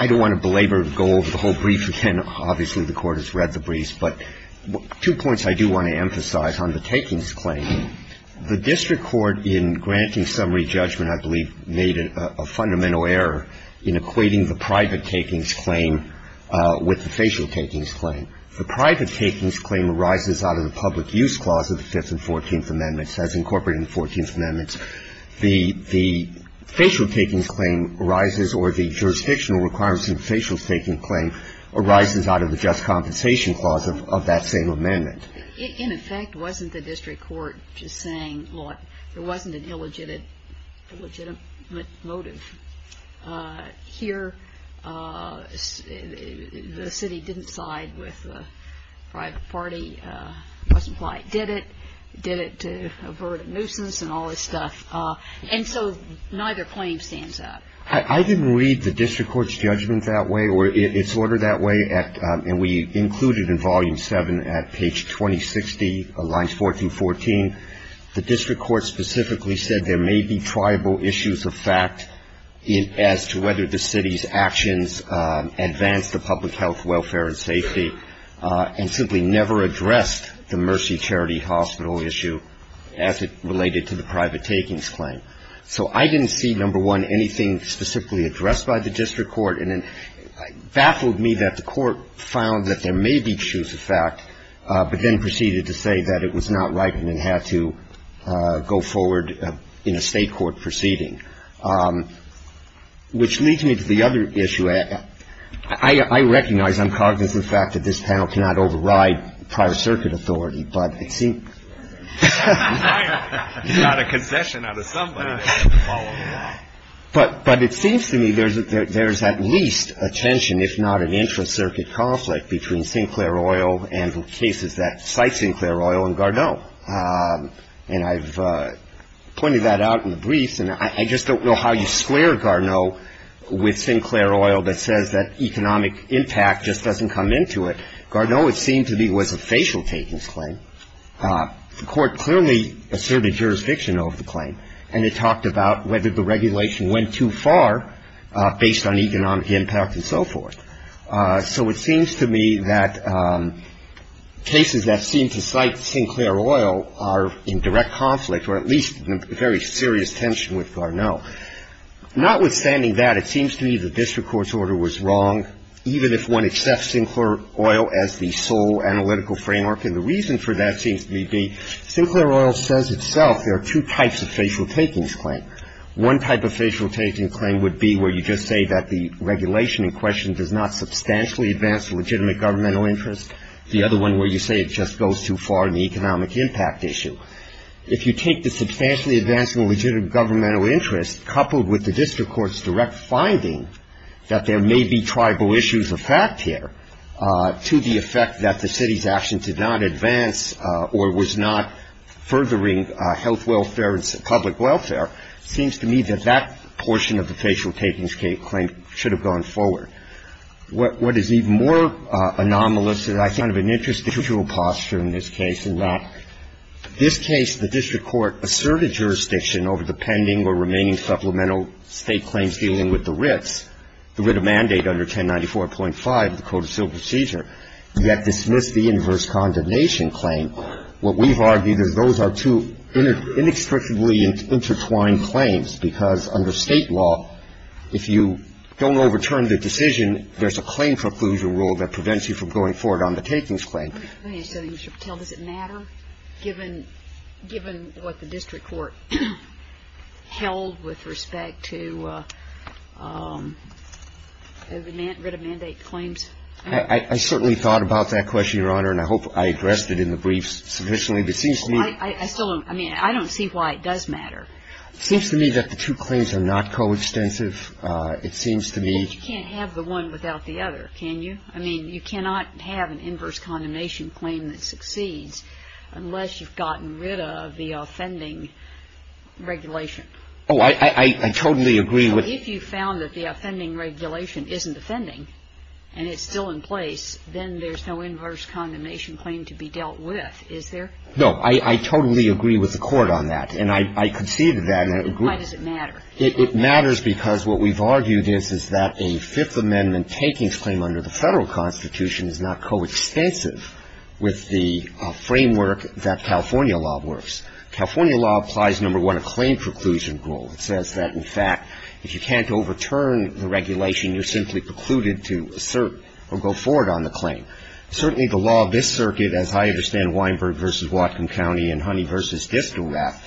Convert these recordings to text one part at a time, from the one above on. I don't want to belabor or go over the whole brief again. Obviously, the Court has read the briefs, but two points I do want to emphasize on the takings claim. The district court in granting summary judgment, I believe, made a fundamental error in equating the private takings claim with the facial takings claim. The private takings claim arises out of the public use clause of the Fifth and Fourteenth Amendments, as incorporated in the Fourteenth Amendments. The facial takings claim arises, or the jurisdictional requirements in the facial takings claim, arises out of the just compensation clause of that same amendment. In effect, wasn't the district court just saying, look, there wasn't an illegitimate motive here? The city didn't side with the private party. It doesn't apply. It did it. It did it to avert a nuisance and all this stuff. And so neither claim stands up. I didn't read the district court's judgment that way, or its order that way, and we include it in Volume 7 at page 2060 of Lines 14-14. The district court specifically said there may be triable issues of fact as to whether the city's actions advanced the public health, welfare, and safety, and simply never addressed the Mercy Charity Hospital issue as it related to the private takings claim. So I didn't see, number one, anything specifically addressed by the district court. And it baffled me that the court found that there may be issues of fact, but then proceeded to say that it was not right and it had to go forward in a State court proceeding. Which leads me to the other issue. I recognize I'm cognizant of the fact that this panel cannot override prior circuit authority, but it seems to me that this panel is not But it seems to me there's at least a tension, if not an intra-circuit conflict, between Sinclair Oil and the cases that cite Sinclair Oil and Garneau. And I've pointed that out in the briefs. And I just don't know how you square Garneau with Sinclair Oil that says that economic impact just doesn't come into it. Garneau, it seemed to me, was a facial takings claim. The court clearly asserted jurisdiction of the claim. And it talked about whether the regulation went too far based on economic impact and so forth. So it seems to me that cases that seem to cite Sinclair Oil are in direct conflict, or at least in very serious tension with Garneau. Notwithstanding that, it seems to me that this court's order was wrong, even if one accepts Sinclair Oil as the sole analytical framework. And the reason for that seems to me to be Sinclair Oil says itself there are two types of facial takings claim. One type of facial takings claim would be where you just say that the regulation in question does not substantially advance legitimate governmental interest. The other one where you say it just goes too far in the economic impact issue. If you take the substantially advancing legitimate governmental interest coupled with the district court's direct finding that there may be tribal issues of fact here to the effect that the city's action did not advance or was not furthering health welfare and public welfare, it seems to me that that portion of the facial takings claim should have gone forward. What is even more anomalous is I think kind of an interstitial posture in this case in that this case, the district court asserted jurisdiction over the pending or remaining supplemental state claims dealing with the writs. The writ of mandate under 1094.5, the Code of Civil Procedure, yet dismissed the inverse condemnation claim. What we've argued is those are two inextricably intertwined claims, because under State law, if you don't overturn the decision, there's a claim foreclosure rule that prevents you from going forward on the takings claim. I'm going to ask you something, Mr. Patel. Does it matter, given what the district court held with respect to the writ of mandate claims? I certainly thought about that question, Your Honor, and I hope I addressed it in the briefs sufficiently. But it seems to me that the two claims are not coextensive. It seems to me that you can't have the one without the other, can you? I mean, you cannot have an inverse condemnation claim that succeeds unless you've gotten rid of the offending regulation. Oh, I totally agree with you. If you found that the offending regulation isn't offending and it's still in place, then there's no inverse condemnation claim to be dealt with, is there? No. I totally agree with the Court on that, and I conceded that. Why does it matter? It matters because what we've argued is that a Fifth Amendment takings claim under the Federal Constitution is not coextensive with the framework that California law works. California law applies, number one, a claim preclusion rule. It says that, in fact, if you can't overturn the regulation, you're simply precluded to assert or go forward on the claim. Certainly, the law of this circuit, as I understand Weinberg v. Whatcom County and Honey v. Distelrath,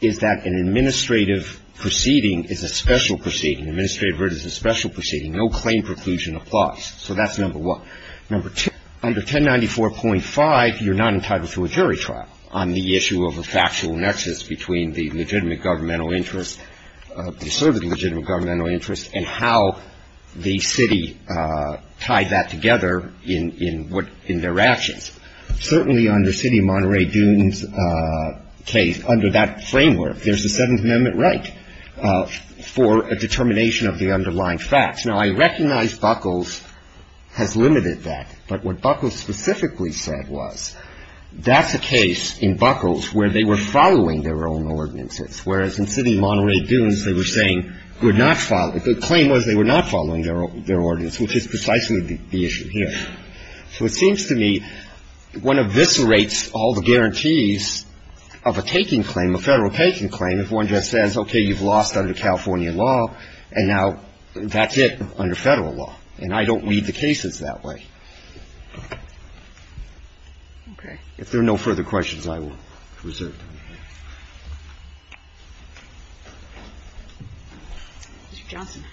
is that an administrative proceeding is a special proceeding. Administrative verdict is a special proceeding. No claim preclusion applies. So that's number one. Number two, under 1094.5, you're not entitled to a jury trial on the issue of a factual nexus between the legitimate governmental interest, asserted legitimate governmental interest, and how the city tied that together in their actions. Certainly, under City of Monterey Dunes case, under that framework, there's a Seventh Amendment right for a determination of the underlying facts. Now, I recognize Buckles has limited that. But what Buckles specifically said was that's a case in Buckles where they were following their own ordinances, whereas in City of Monterey Dunes, they were saying, would not follow. The claim was they were not following their ordinance, which is precisely the issue here. So it seems to me one eviscerates all the guarantees of a taking claim, a Federal taking claim, if one just says, okay, you've lost under California law, and now that's it under Federal law. And I don't read the cases that way. If there are no further questions, I will reserve them. Thank you. Mr. Johnson.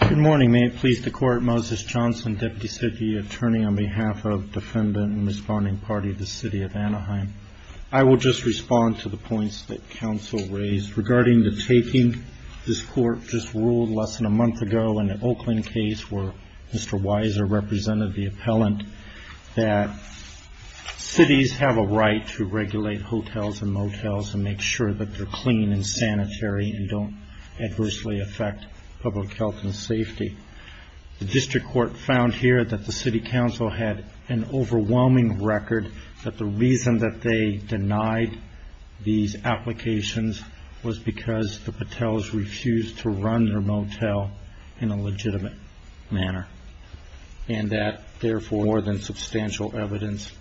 Good morning. May it please the Court. Moses Johnson, Deputy City Attorney on behalf of Defendant and Respondent Party of the City of Anaheim. I will just respond to the points that counsel raised regarding the taking. This Court just ruled less than a month ago in the Oakland case where Mr. Weiser represented the appellant that cities have a right to regulate hotels and motels and make sure that they're clean and sanitary and don't adversely affect public health and safety. The district court found here that the city council had an overwhelming record that the reason that they denied these applications was because the patels refused to run their motel in a legitimate manner and that, therefore, more than substantial evidence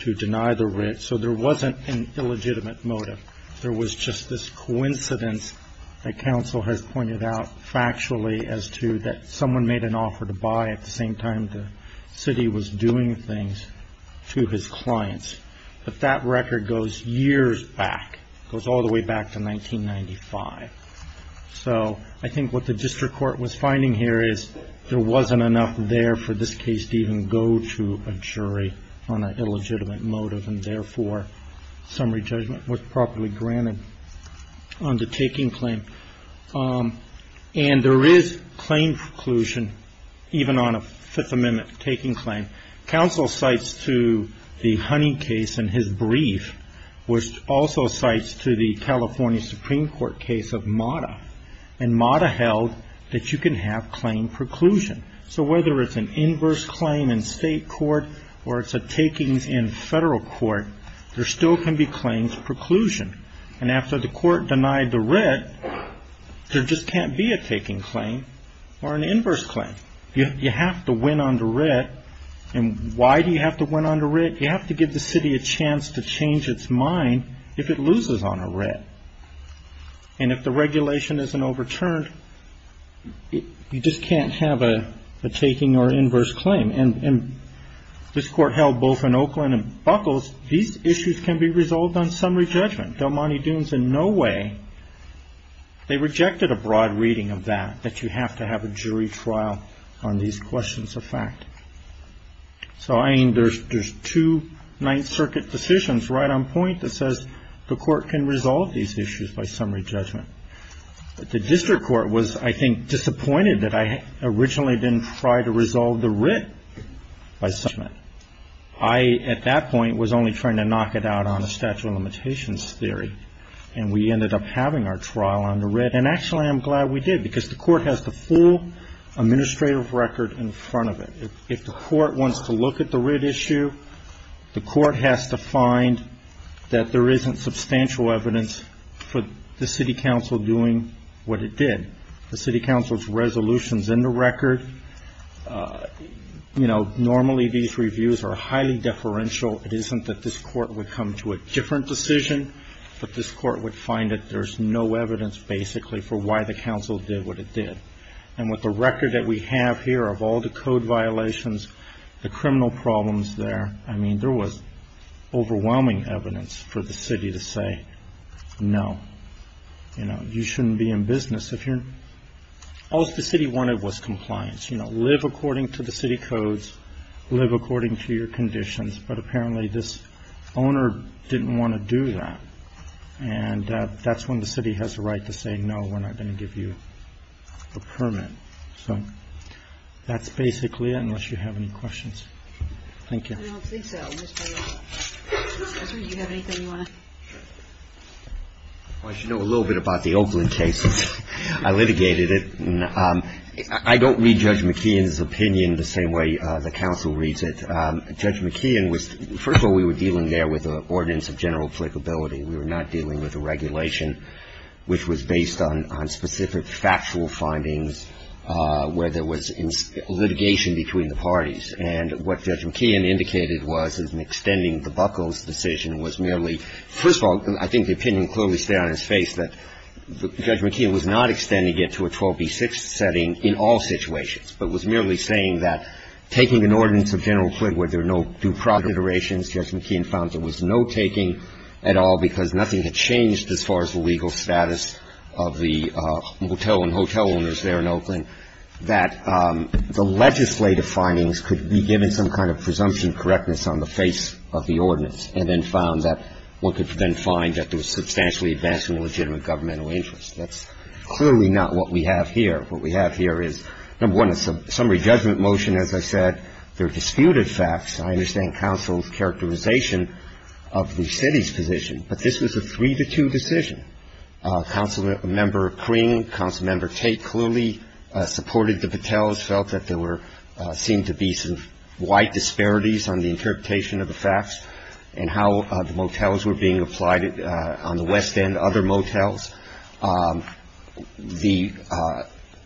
to deny the rent. So there wasn't an illegitimate motive. There was just this coincidence that counsel has pointed out factually as to that someone made an offer to buy at the same time the city was doing things to his clients. But that record goes years back. It goes all the way back to 1995. So I think what the district court was finding here is there wasn't enough there for this case to even go to a jury on an illegitimate motive and, therefore, summary judgment was properly granted on the taking claim. And there is claim preclusion even on a Fifth Amendment taking claim. Counsel cites to the Honey case in his brief, which also cites to the California Supreme Court case of MATA, and MATA held that you can have claim preclusion. So whether it's an inverse claim in state court or it's a takings in federal court, there still can be claims preclusion. And after the court denied the rent, there just can't be a taking claim or an inverse claim. You have to win on the rent. And why do you have to win on the rent? You have to give the city a chance to change its mind if it loses on a rent. And if the regulation isn't overturned, you just can't have a taking or inverse claim. And this court held both in Oakland and Buckles these issues can be resolved on summary judgment. Del Monte Dunes in no way, they rejected a broad reading of that, that you have to have a jury trial on these questions of fact. So, I mean, there's two Ninth Circuit decisions right on point that says the court can resolve these issues by summary judgment. But the district court was, I think, disappointed that I originally didn't try to resolve the writ by summary judgment. I, at that point, was only trying to knock it out on a statute of limitations theory. And we ended up having our trial on the writ. And actually, I'm glad we did because the court has the full administrative record in front of it. If the court wants to look at the writ issue, the court has to find that there isn't substantial evidence for the city council doing what it did. And the city council's resolution's in the record. Normally, these reviews are highly deferential. It isn't that this court would come to a different decision, but this court would find that there's no evidence, basically, for why the council did what it did. And with the record that we have here of all the code violations, the criminal problems there, I mean, there was overwhelming evidence for the city to say, no, you shouldn't be in business. All the city wanted was compliance. Live according to the city codes. Live according to your conditions. But apparently, this owner didn't want to do that. And that's when the city has the right to say, no, we're not going to give you a permit. So that's basically it, unless you have any questions. I don't think so. Mr. O'Rourke, do you have anything you want to add? Well, I should know a little bit about the Oakland case. I litigated it. I don't read Judge McKeon's opinion the same way the council reads it. Judge McKeon was — first of all, we were dealing there with an ordinance of general applicability. We were not dealing with a regulation which was based on specific factual findings where there was litigation between the parties. And what Judge McKeon indicated was, in extending the Buckles decision, was merely — I don't know if you can see it on his face, but Judge McKeon was not extending it to a 12b6 setting in all situations, but was merely saying that taking an ordinance of general applicability where there are no due procedurations, Judge McKeon found there was no taking at all because nothing had changed as far as the legal status of the hotel and hotel owners there in Oakland, that the legislative findings could be given some kind of presumption correctness on the face of the ordinance, and then found that one could then find that there was substantially advancement of legitimate governmental interest. That's clearly not what we have here. What we have here is, number one, a summary judgment motion. As I said, there are disputed facts. I understand counsel's characterization of the city's position, but this was a three-to-two decision. Councilmember Kring, Councilmember Tate clearly supported the Battelles, felt that there were — seemed to be some wide disparities on the interpretation of the facts. And how the motels were being applied on the West End, other motels. The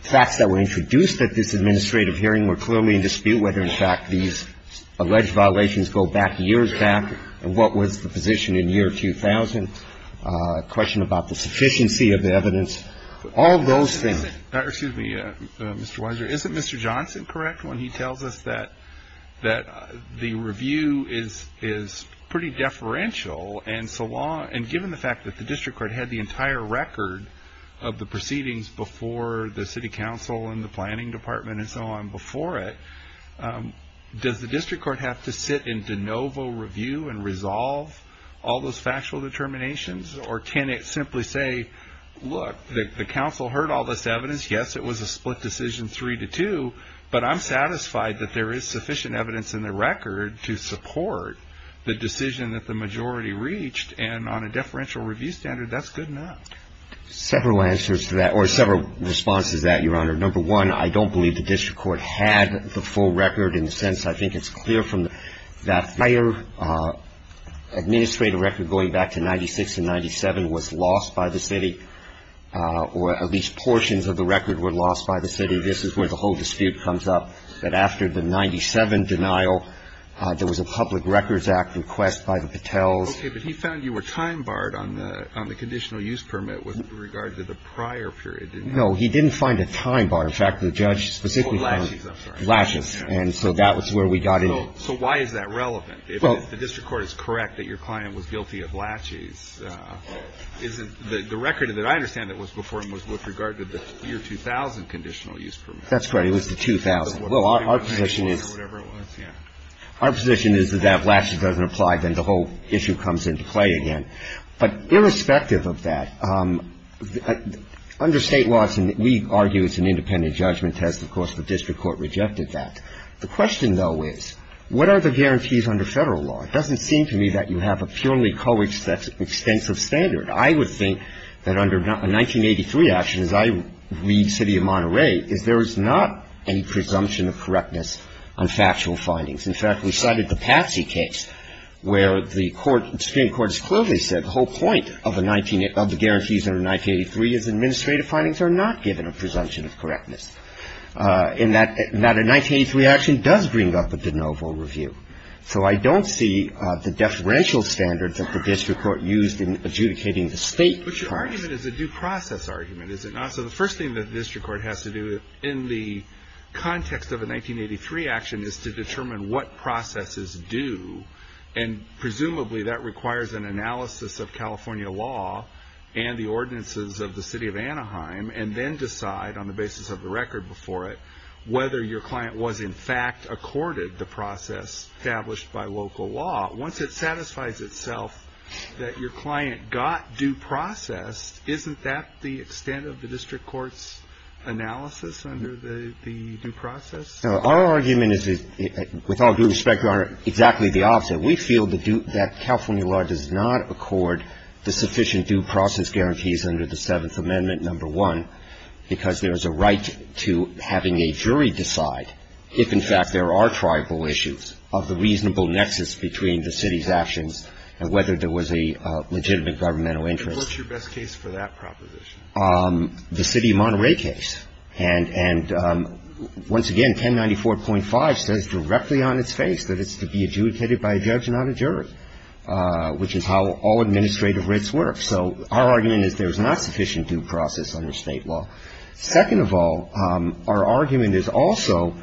facts that were introduced at this administrative hearing were clearly in dispute, whether, in fact, these alleged violations go back years back, and what was the position in the year 2000, a question about the sufficiency of the evidence, all those things. Excuse me, Mr. Weiser. Isn't Mr. Johnson correct when he tells us that the review is pretty deferential, and given the fact that the district court had the entire record of the proceedings before the city council and the planning department and so on before it, does the district court have to sit and de novo review and resolve all those factual determinations? Or can it simply say, look, the council heard all this evidence. Yes, it was a split decision three-to-two, but I'm satisfied that there is sufficient evidence in the record to support the decision that the majority reached. And on a deferential review standard, that's good enough. Several answers to that, or several responses to that, Your Honor. Number one, I don't believe the district court had the full record in the sense I think it's clear from that prior administrative record going back to 96 and 97 was lost by the city, or at least portions of the record were lost by the city. This is where the whole dispute comes up, that after the 97 denial, there was a Public Records Act request by the Patels. Okay. But he found you were time-barred on the conditional use permit with regard to the prior period, didn't he? No. He didn't find it time-barred. In fact, the judge specifically found it. Oh, lashes. And so that was where we got in. So why is that relevant? If the district court is correct that your client was guilty of lashes, isn't the record that I understand it was before him was with regard to the year 2000 conditional use permit? That's right. It was the 2000. Well, our position is that if lashes doesn't apply, then the whole issue comes into play again. But irrespective of that, under State laws, and we argue it's an independent judgment test, of course, the district court rejected that. The question, though, is what are the guarantees under Federal law? It doesn't seem to me that you have a purely coextensive standard. I would think that under a 1983 action, as I read City of Monterey, is there is not any presumption of correctness on factual findings. In fact, we cited the Patsy case where the Supreme Court has clearly said the whole point of the guarantees under 1983 is administrative findings are not given a presumption of correctness. And that a 1983 action does bring up a de novo review. So I don't see the deferential standards that the district court used in adjudicating the State. But your argument is a due process argument, is it not? So the first thing that the district court has to do in the context of a 1983 action is to determine what processes do. And presumably that requires an analysis of California law and the ordinances of the City of Anaheim and then decide on the basis of the record before it whether your client was, in fact, accorded the process established by local law. Once it satisfies itself that your client got due process, isn't that the extent of the district court's analysis under the due process? Our argument is, with all due respect, Your Honor, exactly the opposite. We feel that California law does not accord the sufficient due process guarantees under the Seventh Amendment, number one, because there is a right to having a jury decide if, in fact, there are tribal issues of the reasonable nexus between the City's actions and whether there was a legitimate governmental interest. And what's your best case for that proposition? The City of Monterey case. And once again, 1094.5 says directly on its face that it's to be adjudicated by a judge, not a jury, which is how all administrative writs work. So our argument is there is not sufficient due process under State law. Second of all, our argument is also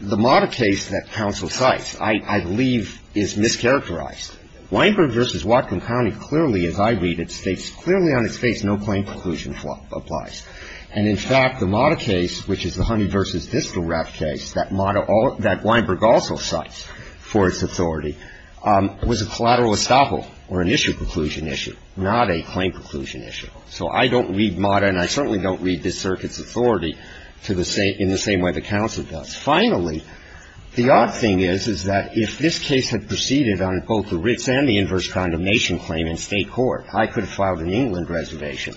the modern case that counsel cites, I believe, is mischaracterized. Weinberg v. Whatcom County clearly, as I read it, states clearly on its face no plain conclusion applies. And, in fact, the Mata case, which is the Honey v. Distal Wrap case, that Mata all that Weinberg also cites for its authority, was a collateral estoppel or an issue-conclusion issue, not a claim-conclusion issue. So I don't read Mata, and I certainly don't read this Circuit's authority to the same in the same way the counsel does. Finally, the odd thing is, is that if this case had proceeded on both the writs and the inverse condemnation claim in State court, I could have filed an England reservation,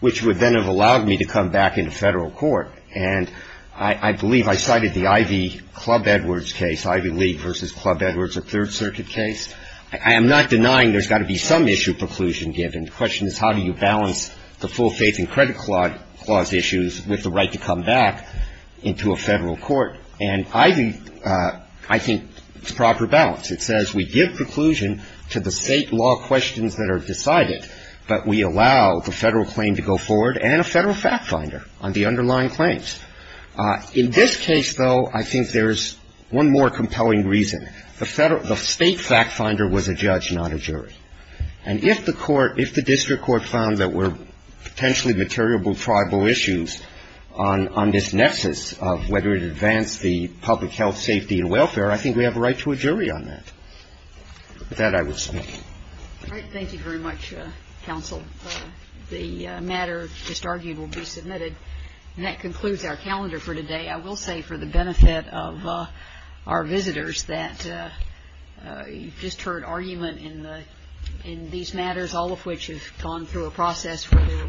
which would then have allowed me to come back into Federal court. And I believe I cited the Ivy Club Edwards case, Ivy League v. Club Edwards, a Third Circuit case. I am not denying there's got to be some issue preclusion given. The question is how do you balance the full faith and credit clause issues with the right to come back into a Federal court. And Ivy, I think, it's proper balance. It says we give preclusion to the State law questions that are decided, but we allow the Federal claim to go forward and a Federal fact finder on the underlying claims. In this case, though, I think there's one more compelling reason. The State fact finder was a judge, not a jury. And if the court, if the district court found that there were potentially material tribal issues on this nexus of whether it advanced the public health, safety and welfare, I think we have a right to a jury on that. With that, I would speak. All right. Thank you very much, Counsel. The matter just argued will be submitted. And that concludes our calendar for today. I will say for the benefit of our visitors that you've just heard argument in these matters, all of which have gone through a process where they were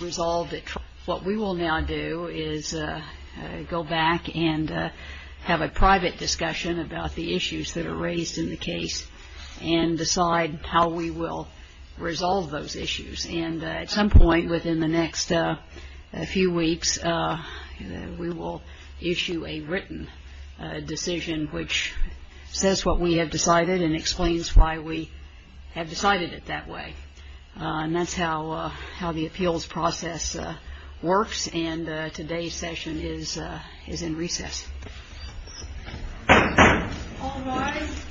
resolved. What we will now do is go back and have a private discussion about the issues that are identified and how we will resolve those issues. And at some point within the next few weeks, we will issue a written decision which says what we have decided and explains why we have decided it that way. And that's how the appeals process works. And today's session is in recess. All rise.